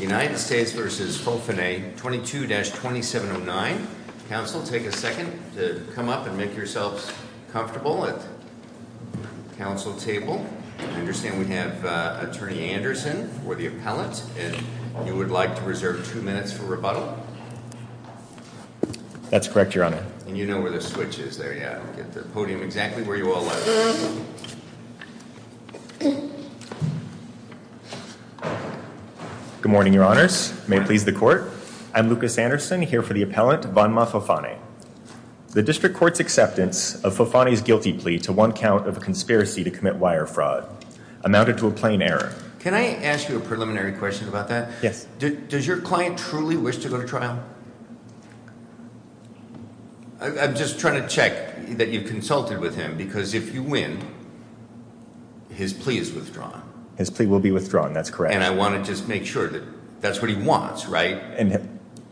United States v. Faufine 22-2709. Council, take a second to come up and make yourselves comfortable at the council table. I understand we have Attorney Anderson for the appellant and you would like to reserve two minutes for rebuttal? That's correct, Your Honor. And you know where the switch is there, yeah. Get the podium exactly where you all like. Good morning, Your Honors. May it please the court. I'm Lucas Anderson here for the appellant, Vonma Faufine. The district court's acceptance of Faufine's guilty plea to one count of a conspiracy to commit wire fraud amounted to a plain error. Can I ask you a preliminary question about that? Yes. Does your client truly wish to go to trial? I'm just trying to check that you've consulted with him because if you win, his plea is withdrawn. His plea will be withdrawn, that's correct. And I want to just make sure that that's what he wants, right?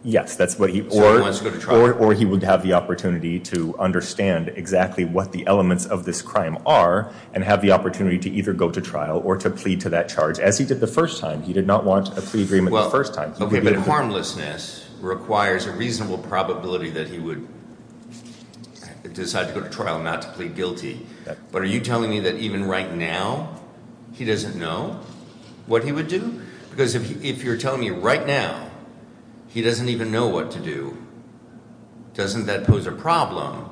Yes, that's what he... So he wants to go to trial? Or he would have the opportunity to understand exactly what the elements of this crime are and have the opportunity to either go to trial or to plea to that charge as he did the first time. He did not want a plea agreement the first time. Okay, but harmlessness requires a reasonable probability that he would decide to go to trial and plead guilty. But are you telling me that even right now, he doesn't know what he would do? Because if you're telling me right now, he doesn't even know what to do, doesn't that pose a problem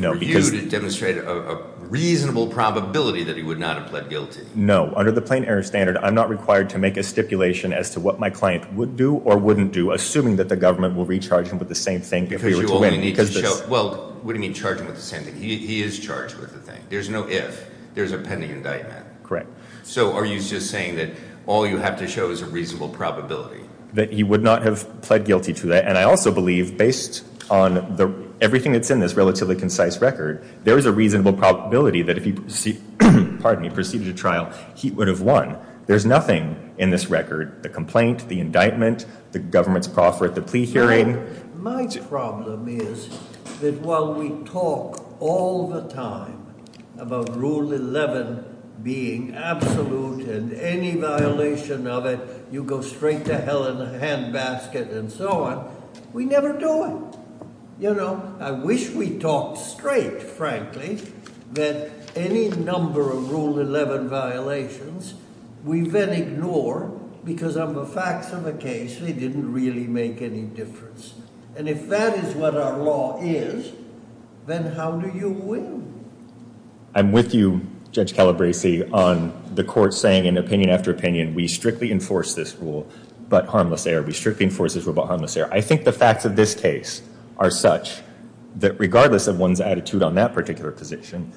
for you to demonstrate a reasonable probability that he would not have pled guilty? No. Under the plain error standard, I'm not required to make a stipulation as to what my client would do or wouldn't do, assuming that the government will recharge him with the same thing if he were to win. Well, what do you mean charging with the same thing? He is charged with the thing. There's no if. There's a pending indictment. Correct. So are you just saying that all you have to show is a reasonable probability? That he would not have pled guilty to that. And I also believe, based on everything that's in this relatively concise record, there is a reasonable probability that if he proceeded to trial, he would have won. There's nothing in this record, the complaint, the indictment, the government's proffer at the plea hearing. My problem is that while we talk all the time about Rule 11 being absolute and any violation of it, you go straight to hell in a handbasket and so on, we never do it. You know, I wish we talked straight, frankly, that any number of Rule 11 violations we then ignore because of the facts of the case, they didn't really make any difference. And if that is what our law is, then how do you win? I'm with you, Judge Calabresi, on the court saying in opinion after opinion, we strictly enforce this rule, but harmless error. We strictly enforce this rule, but harmless error. I think the facts of this case are such that regardless of one's attitude on that particular position,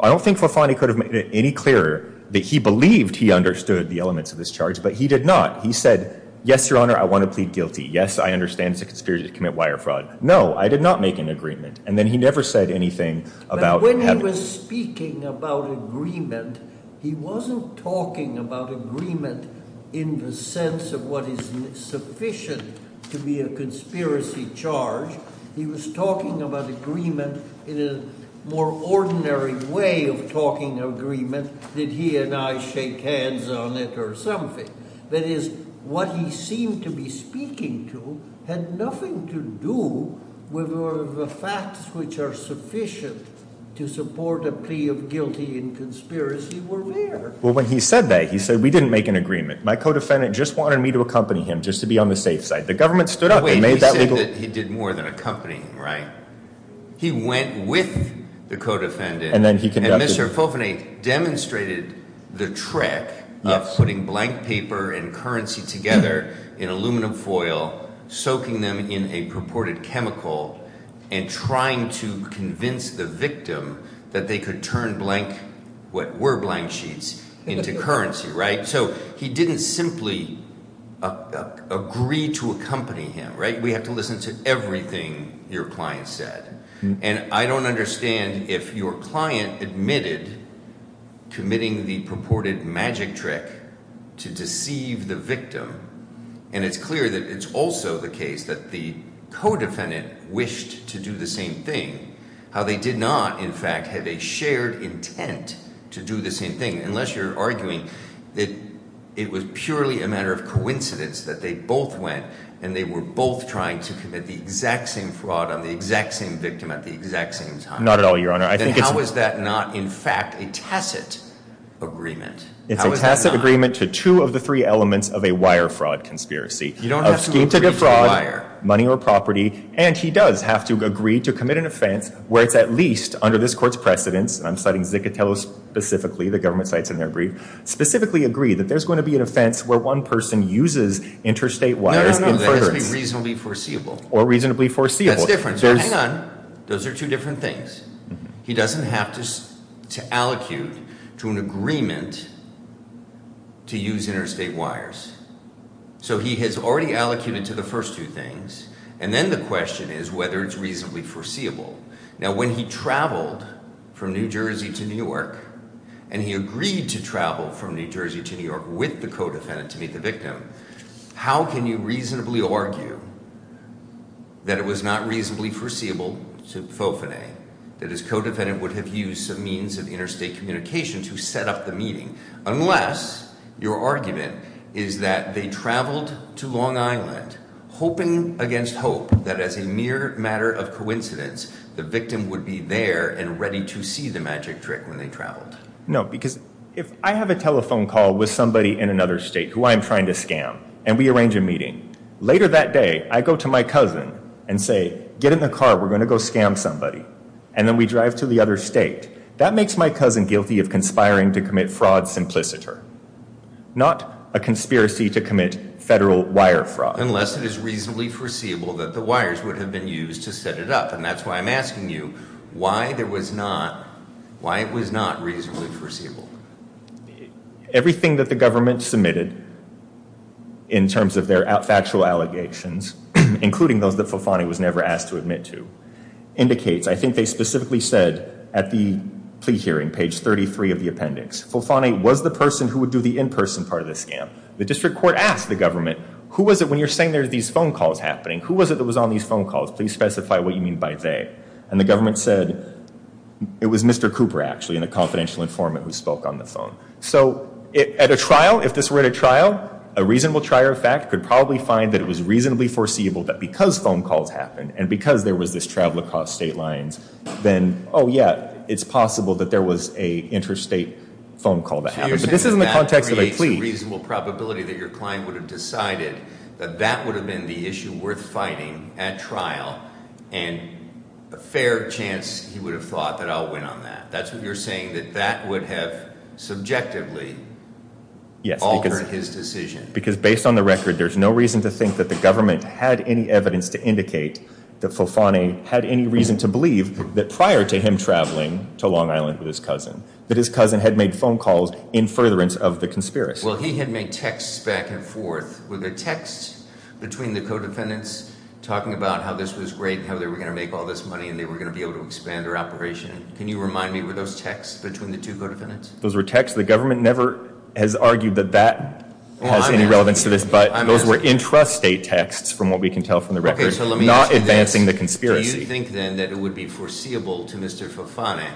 I don't think Fofani could have made it any clearer that he believed he understood the elements of this charge, but he did not. He said, yes, Your Honor, I want to plead guilty. Yes, I understand it's a conspiracy to commit wire fraud. No, I did not make an agreement. And then he never said anything about having... But when he was speaking about agreement, he wasn't talking about agreement in the sense of what is sufficient to be a conspiracy charge. He was talking about agreement in a more ordinary way of talking agreement that he and I shake hands on it or something. That is, what he seemed to be speaking to had nothing to do with the facts which are sufficient to support a plea of guilty and conspiracy were there. Well, when he said that, he said we didn't make an agreement. My co-defendant just wanted me to accompany him just to be on the safe side. The government stood up and made that legal... And Mr. Fofani demonstrated the trick of putting blank paper and currency together in aluminum foil, soaking them in a purported chemical and trying to convince the victim that they could turn blank, what were blank sheets, into currency. So he didn't simply agree to accompany him. We have to listen to everything your client said. And I don't understand if your client admitted committing the purported magic trick to deceive the victim, and it's clear that it's also the case that the co-defendant wished to do the same thing, how they did not, in fact, have a shared intent to do the same thing, unless you're arguing that it was purely a matter of coincidence that they both went and they were both trying to commit the exact same fraud on the exact same victim at the exact same time. Not at all, Your Honor. Then how is that not, in fact, a tacit agreement? It's a tacit agreement to two of the three elements of a wire fraud conspiracy. You don't have to agree to a wire. A scheme to get fraud, money or property, and he does have to agree to commit an offense where it's at least under this court's precedence, and I'm citing Zicatello specifically, the government cites in their brief, specifically agree that there's going to be an offense where one person uses interstate wires in furtherance. No, no, no, that has to be reasonably foreseeable. Or reasonably foreseeable. That's different. Now, hang on. Those are two different things. He doesn't have to allocute to an agreement to use interstate wires. So he has already allocated to the first two things, and then the question is whether it's reasonably foreseeable. Now, when he traveled from New Jersey to New York, and he agreed to travel from New Jersey to New York with the co-defendant to meet the victim, how can you reasonably argue that it was not reasonably foreseeable to Fofanay that his co-defendant would have used some means of interstate communication to set up the meeting, unless your argument is that they traveled to Long Island hoping against hope that as a mere matter of coincidence the victim would be there and ready to see the magic trick when they traveled. No, because if I have a telephone call with somebody in another state who I'm trying to Later that day, I go to my cousin and say, get in the car. We're going to go scam somebody. And then we drive to the other state. That makes my cousin guilty of conspiring to commit fraud simpliciter, not a conspiracy to commit federal wire fraud. Unless it is reasonably foreseeable that the wires would have been used to set it up. And that's why I'm asking you why it was not reasonably foreseeable. Everything that the government submitted in terms of their factual allegations, including those that Fofanay was never asked to admit to, indicates, I think they specifically said at the plea hearing, page 33 of the appendix, Fofanay was the person who would do the in-person part of the scam. The district court asked the government, who was it, when you're saying there are these phone calls happening, who was it that was on these phone calls? Please specify what you mean by they. And the government said it was Mr. Cooper, actually, and the confidential informant who was on the phone. So at a trial, if this were at a trial, a reasonable trier of fact could probably find that it was reasonably foreseeable that because phone calls happened, and because there was this travel across state lines, then, oh yeah, it's possible that there was an interstate phone call that happened. But this is in the context of a plea. So you're saying that creates a reasonable probability that your client would have decided that that would have been the issue worth fighting at trial, and a fair chance he would have thought that I'll win on that. That's what you're saying, that that would have subjectively altered his decision. Yes, because based on the record, there's no reason to think that the government had any evidence to indicate that Folfone had any reason to believe that prior to him traveling to Long Island with his cousin, that his cousin had made phone calls in furtherance of the conspiracy. Well, he had made texts back and forth. Were there texts between the co-defendants talking about how this was great and how they were going to make all this money and they were going to be able to expand their operation? Can you remind me, were those texts between the two co-defendants? Those were texts. The government never has argued that that has any relevance to this, but those were intrastate texts from what we can tell from the record, not advancing the conspiracy. Do you think, then, that it would be foreseeable to Mr. Folfone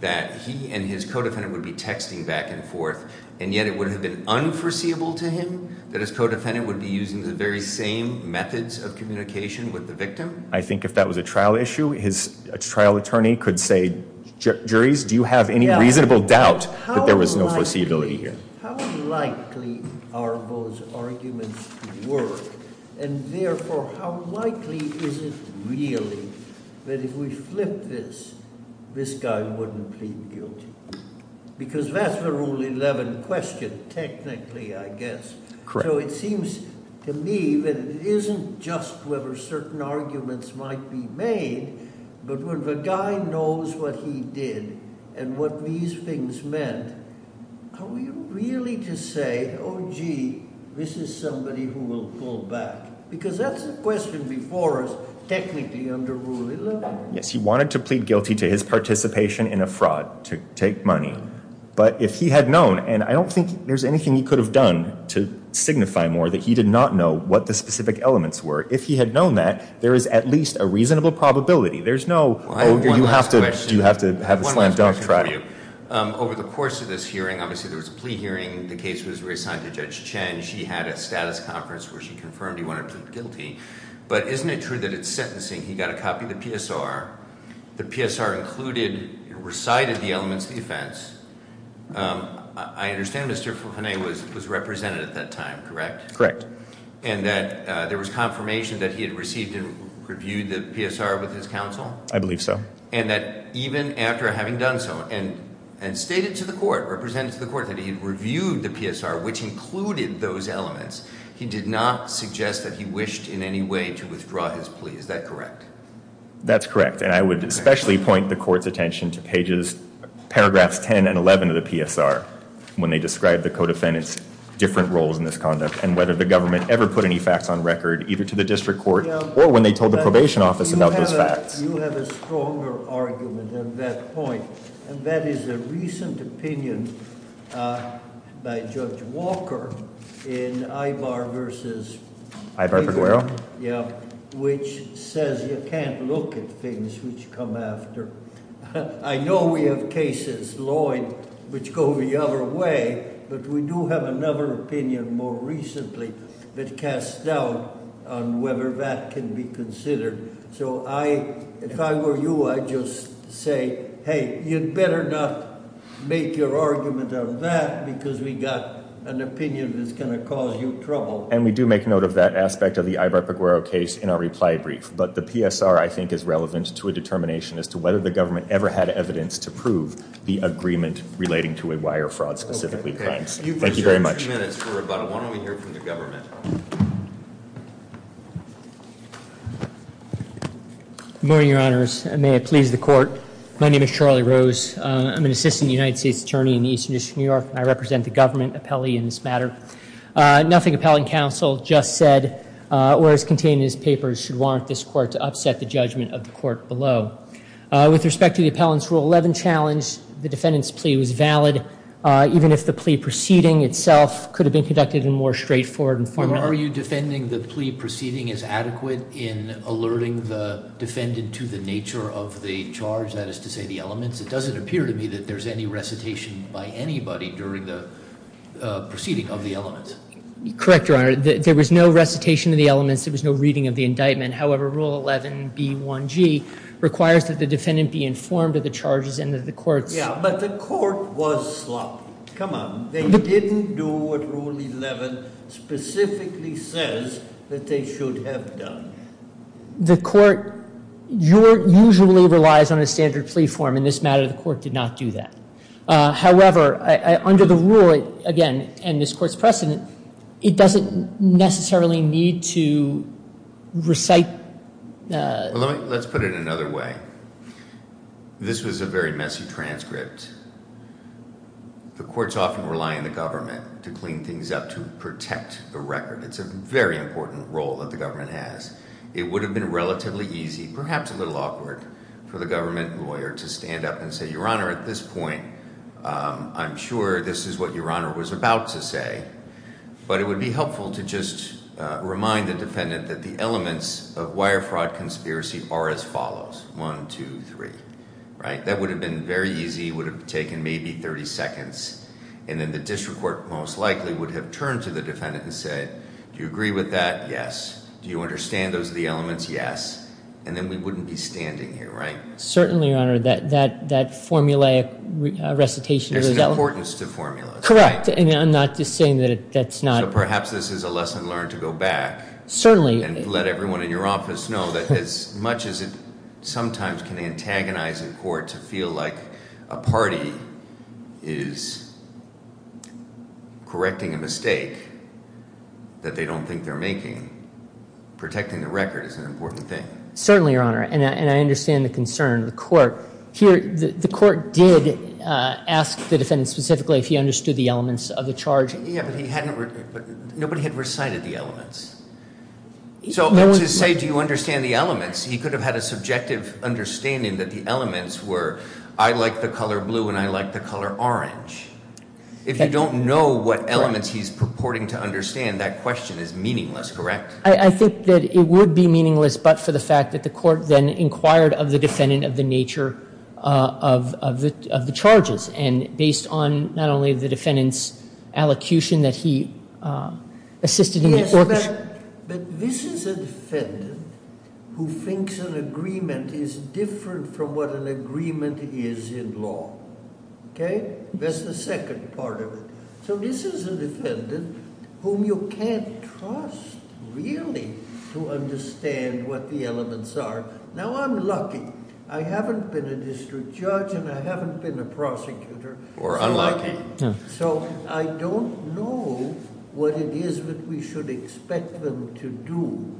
that he and his co-defendant would be texting back and forth, and yet it would have been unforeseeable to him that his co-defendant would be using the very same methods of communication with the victim? I think if that was a trial issue, his trial attorney could say, juries, do you have any reasonable doubt that there was no foreseeability here? How likely are those arguments to work? And therefore, how likely is it really that if we flip this, this guy wouldn't plead guilty? Because that's the Rule 11 question, technically, I guess. Correct. So it seems to me that it isn't just whether certain arguments might be made, but when the guy knows what he did and what these things meant, are we really to say, oh gee, this is somebody who will pull back? Because that's a question before us, technically, under Rule 11. Yes, he wanted to plead guilty to his participation in a fraud to take money. But if he had known, and I don't think there's anything he could have done to signify more that he did not know what the specific elements were. If he had known that, there is at least a reasonable probability. There's no, oh, you have to have a slam dunk trial. One last question for you. Over the course of this hearing, obviously there was a plea hearing. The case was reassigned to Judge Chen. She had a status conference where she confirmed he wanted to plead guilty. But isn't it true that it's sentencing? He got a copy of the PSR. The PSR included, recited the elements of the offense. I understand Mr. Fennay was represented at that time, correct? And that there was confirmation that he had received and reviewed the PSR with his counsel? I believe so. And that even after having done so, and stated to the court, represented to the court, that he had reviewed the PSR, which included those elements, he did not suggest that he wished in any way to withdraw his plea. Is that correct? That's correct. And I would especially point the court's attention to pages, paragraphs 10 and 11 of the PSR when they describe the co-defendants' different roles in this conduct, and whether the government ever put any facts on record, either to the district court or when they told the probation office about those facts. You have a stronger argument on that point. And that is a recent opinion by Judge Walker in Ivar versus- Ivar Figueroa? Yeah, which says you can't look at things which come after. I know we have cases, Lloyd, which go the other way, but we do have another opinion more recently that casts doubt on whether that can be considered. So if I were you, I'd just say, hey, you'd better not make your argument on that, because we've got an opinion that's going to cause you trouble. And we do make note of that aspect of the Ivar Figueroa case in our reply brief. But the PSR, I think, is relevant to a determination as to whether the government ever had evidence to prove the agreement relating to a wire fraud specifically. Thank you very much. We have a few minutes for rebuttal. Why don't we hear from the government? Good morning, Your Honors, and may it please the court. My name is Charlie Rose. I'm an assistant United States attorney in the Eastern District of New York, and I represent the government appellee in this matter. Nothing appellant counsel just said or is contained in this paper should warrant this court to upset the judgment of the court below. With respect to the appellant's Rule 11 challenge, the defendant's plea was valid, even if the plea proceeding itself could have been conducted in a more straightforward and formal manner. Are you defending the plea proceeding as adequate in alerting the defendant to the nature of the charge, that is to say, the elements? It doesn't appear to me that there's any recitation by anybody during the proceeding of the elements. Correct, Your Honor. There was no recitation of the elements. There was no reading of the indictment. However, Rule 11b1g requires that the defendant be informed of the charges and that the court's ---- But the court was sloppy. Come on. They didn't do what Rule 11 specifically says that they should have done. The court usually relies on a standard plea form. In this matter, the court did not do that. However, under the rule, again, and this court's precedent, it doesn't necessarily need to recite ---- Let's put it another way. This was a very messy transcript. The courts often rely on the government to clean things up, to protect the record. It's a very important role that the government has. It would have been relatively easy, perhaps a little awkward, for the government lawyer to stand up and say, Your Honor, at this point, I'm sure this is what Your Honor was about to say, but it would be helpful to just remind the defendant that the elements of wire fraud conspiracy are as follows. One, two, three. Right? That would have been very easy. It would have taken maybe 30 seconds. And then the district court most likely would have turned to the defendant and said, Do you agree with that? Yes. Do you understand those are the elements? Yes. And then we wouldn't be standing here. Right? Certainly, Your Honor. That formulaic recitation ---- There's an importance to formulas. Correct. And I'm not just saying that that's not ---- So perhaps this is a lesson learned to go back. Certainly. And let everyone in your office know that as much as it sometimes can antagonize a court to feel like a party is correcting a mistake that they don't think they're making, protecting the record is an important thing. Certainly, Your Honor. And I understand the concern of the court. Here, the court did ask the defendant specifically if he understood the elements of the charge. Nobody had recited the elements. So to say, Do you understand the elements? He could have had a subjective understanding that the elements were, I like the color blue and I like the color orange. If you don't know what elements he's purporting to understand, that question is meaningless, correct? I think that it would be meaningless but for the fact that the court then inquired of the defendant of the nature of the charges. And based on not only the defendant's allocution that he assisted in the orchestration. Yes, but this is a defendant who thinks an agreement is different from what an agreement is in law. Okay? That's the second part of it. So this is a defendant whom you can't trust really to understand what the elements are. Now, I'm lucky. I haven't been a district judge and I haven't been a prosecutor. We're unlucky. So I don't know what it is that we should expect them to do.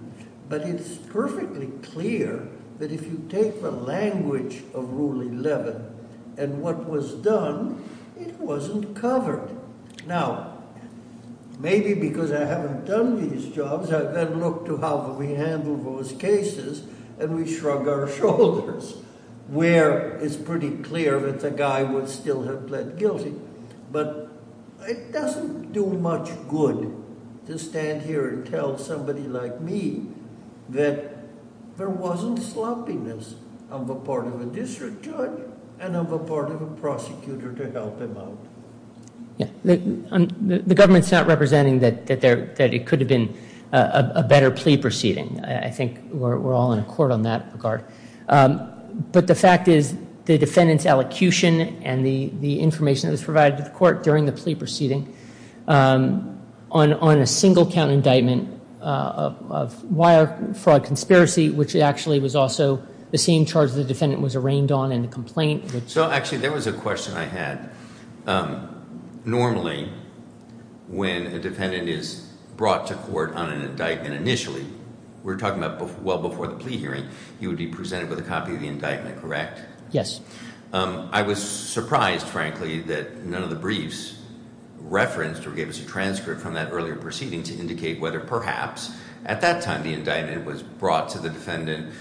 But it's perfectly clear that if you take the language of Rule 11 and what was done, it wasn't covered. Now, maybe because I haven't done these jobs, I've got to look to how we handle those cases and we shrug our shoulders. Where it's pretty clear that the guy would still have pled guilty. But it doesn't do much good to stand here and tell somebody like me that there wasn't sloppiness of a part of a district judge and of a part of a prosecutor to help him out. The government's not representing that it could have been a better plea proceeding. I think we're all in accord on that regard. But the fact is the defendant's elocution and the information that was provided to the court during the plea proceeding on a single count indictment of wire fraud conspiracy, which actually was also the same charge the defendant was arraigned on in the complaint. So actually, there was a question I had. Normally, when a defendant is brought to court on an indictment initially, we're talking about well before the plea hearing, you would be presented with a copy of the indictment, correct? Yes. I was surprised, frankly, that none of the briefs referenced or gave us a transcript from that earlier proceeding to indicate whether perhaps at that time the indictment was brought to the defendant,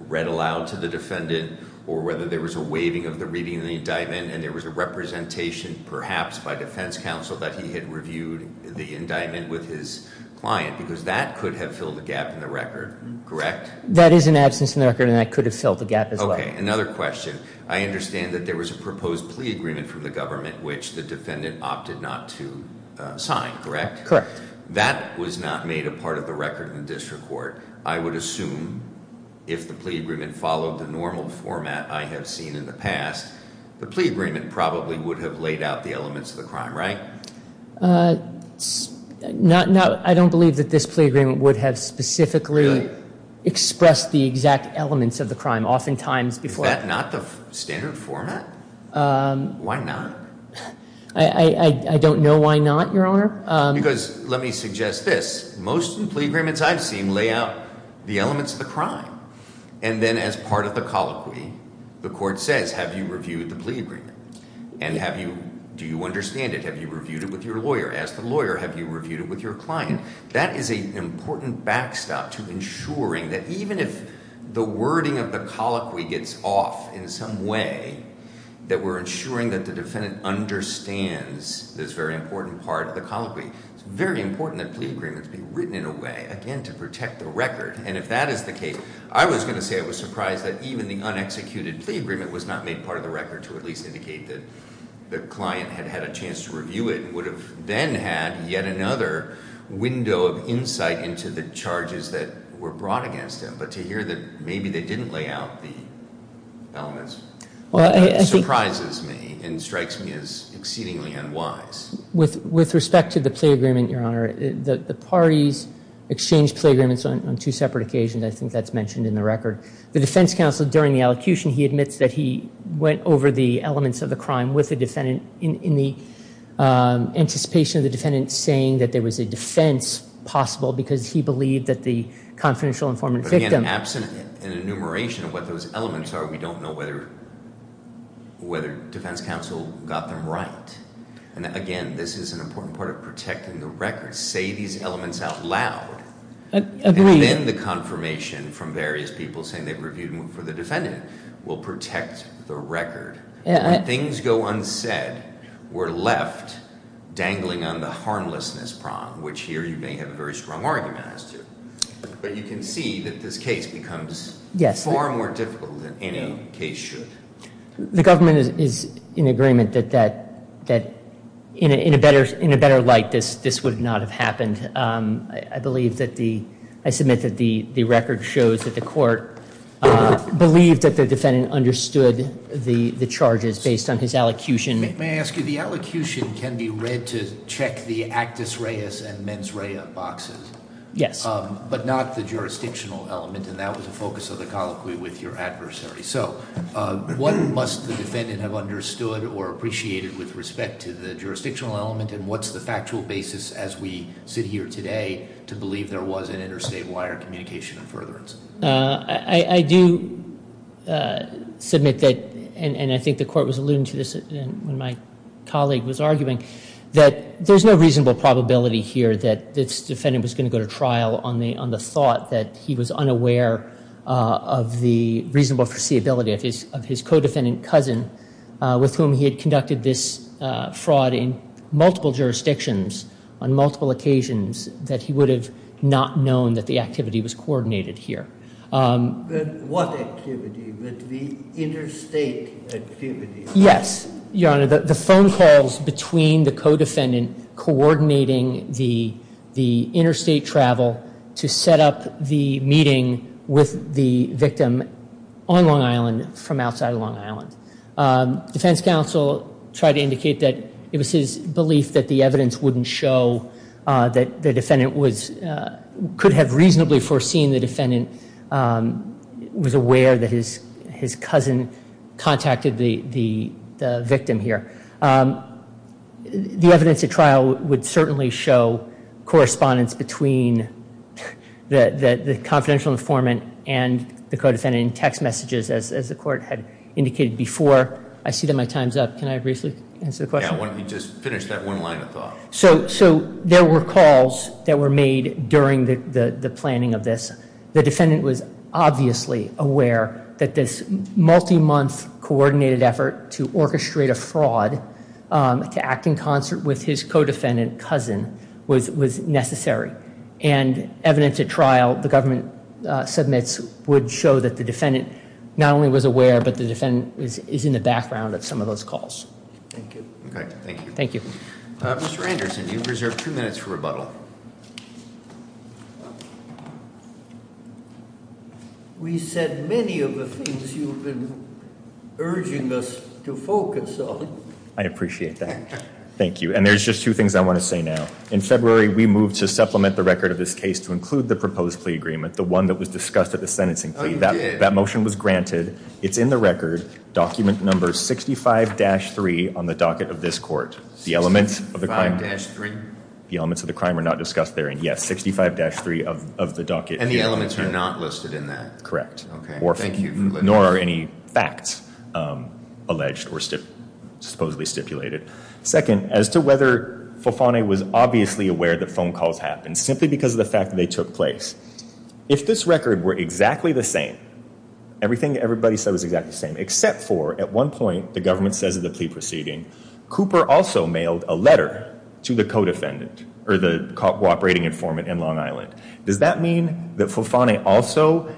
read aloud to the defendant, or whether there was a waiving of the reading of the indictment, and there was a representation perhaps by defense counsel that he had reviewed the indictment with his client because that could have filled the gap in the record, correct? That is an absence in the record, and that could have filled the gap as well. Okay. Another question. I understand that there was a proposed plea agreement from the government which the defendant opted not to sign, correct? Correct. That was not made a part of the record in the district court. I would assume if the plea agreement followed the normal format I have seen in the past, the plea agreement probably would have laid out the elements of the crime, right? I don't believe that this plea agreement would have specifically expressed the exact elements of the crime. Oftentimes, before Is that not the standard format? Why not? I don't know why not, Your Honor. Because let me suggest this. Most plea agreements I've seen lay out the elements of the crime. And then as part of the colloquy, the court says, have you reviewed the plea agreement? And do you understand it? Have you reviewed it with your lawyer? Ask the lawyer, have you reviewed it with your client? That is an important backstop to ensuring that even if the wording of the colloquy gets off in some way, that we're ensuring that the defendant understands this very important part of the colloquy. It's very important that plea agreements be written in a way, again, to protect the record. And if that is the case, I was going to say I was surprised that even the unexecuted plea agreement was not made part of the record to at least indicate that the client had had a chance to review it and would have then had yet another window of insight into the charges that were brought against him. But to hear that maybe they didn't lay out the elements surprises me and strikes me as exceedingly unwise. With respect to the plea agreement, Your Honor, the parties exchanged plea agreements on two separate occasions. I think that's mentioned in the record. The defense counsel, during the elocution, he admits that he went over the elements of the crime with the defendant in the anticipation of the defendant saying that there was a defense possible because he believed that the confidential informant victim. Absent an enumeration of what those elements are, we don't know whether defense counsel got them right. And again, this is an important part of protecting the record. Say these elements out loud. And then the confirmation from various people saying they've reviewed them for the defendant will protect the record. When things go unsaid, we're left dangling on the harmlessness prong, which here you may have a very strong argument as to. But you can see that this case becomes far more difficult than any case should. The government is in agreement that in a better light this would not have happened. I submit that the record shows that the court believed that the defendant understood the charges based on his elocution. May I ask you, the elocution can be read to check the actus reus and mens rea boxes. Yes. But not the jurisdictional element. And that was the focus of the colloquy with your adversary. So what must the defendant have understood or appreciated with respect to the jurisdictional element? And what's the factual basis as we sit here today to believe there was an interstate wire communication of furtherance? I do submit that, and I think the court was alluding to this when my colleague was arguing, that there's no reasonable probability here that this defendant was going to go to trial on the thought that he was unaware of the reasonable foreseeability of his co-defendant cousin with whom he had conducted this fraud in multiple jurisdictions on multiple occasions that he would have not known that the activity was coordinated here. What activity? The interstate activity? Yes, Your Honor, the phone calls between the co-defendant coordinating the interstate travel to set up the meeting with the victim on Long Island from outside of Long Island. Defense counsel tried to indicate that it was his belief that the evidence wouldn't show that the defendant could have reasonably foreseen the defendant was aware that his cousin contacted the victim here. The evidence at trial would certainly show correspondence between the confidential informant and the co-defendant in text messages as the court had indicated before. I see that my time's up. Can I briefly answer the question? Yeah, why don't you just finish that one line of thought. So there were calls that were made during the planning of this. The defendant was obviously aware that this multi-month coordinated effort to orchestrate a fraud to act in concert with his co-defendant cousin was necessary. And evidence at trial the government submits would show that the defendant not only was aware but the defendant is in the background of some of those calls. Thank you. Okay, thank you. Mr. Anderson, you've reserved two minutes for rebuttal. We said many of the things you've been urging us to focus on. I appreciate that. Thank you. And there's just two things I want to say now. In February we moved to supplement the record of this case to include the proposed plea agreement, the one that was discussed at the sentencing plea. That motion was granted. It's in the record. Document number 65-3 on the docket of this court. 65-3? The elements of the crime were not discussed there. And yes, 65-3 of the docket. And the elements are not listed in that? Correct. Nor are any facts alleged or supposedly stipulated. Second, as to whether Folfone was obviously aware that phone calls happened simply because of the fact that they took place, if this record were exactly the same, everything everybody said was exactly the same, except for at one point the government says at the plea proceeding Cooper also mailed a letter to the co-operating informant in Long Island, does that mean that Folfone also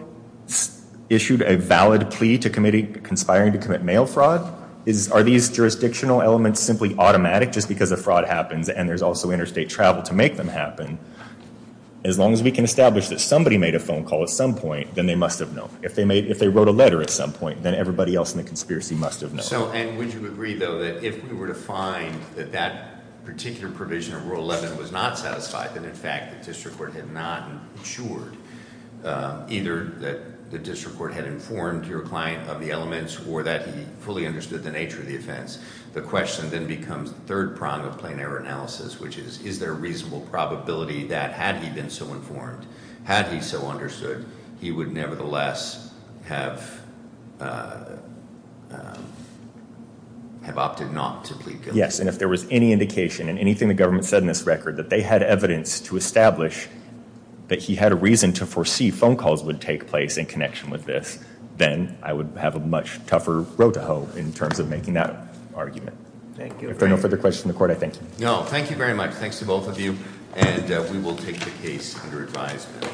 issued a valid plea conspiring to commit mail fraud? Are these jurisdictional elements simply automatic just because a fraud happens and there's also interstate travel to make them happen? As long as we can establish that somebody made a phone call at some point, then they must have known. If they wrote a letter at some point, then everybody else in the conspiracy must have known. And would you agree, though, that if we were to find that that particular provision of Rule 11 was not satisfied, that in fact the district court had not insured, either that the district court had informed your client of the elements or that he fully understood the nature of the offense, the question then becomes the third prong of plain error analysis, which is is there a reasonable probability that had he been so informed, had he so understood, he would nevertheless have opted not to plead guilty? Yes, and if there was any indication in anything the government said in this record that they had evidence to establish that he had a reason to foresee phone calls would take place in connection with this, then I would have a much tougher road to hoe in terms of making that argument. Thank you. If there are no further questions from the court, I thank you. No, thank you very much. Thanks to both of you, and we will take the case under advisement.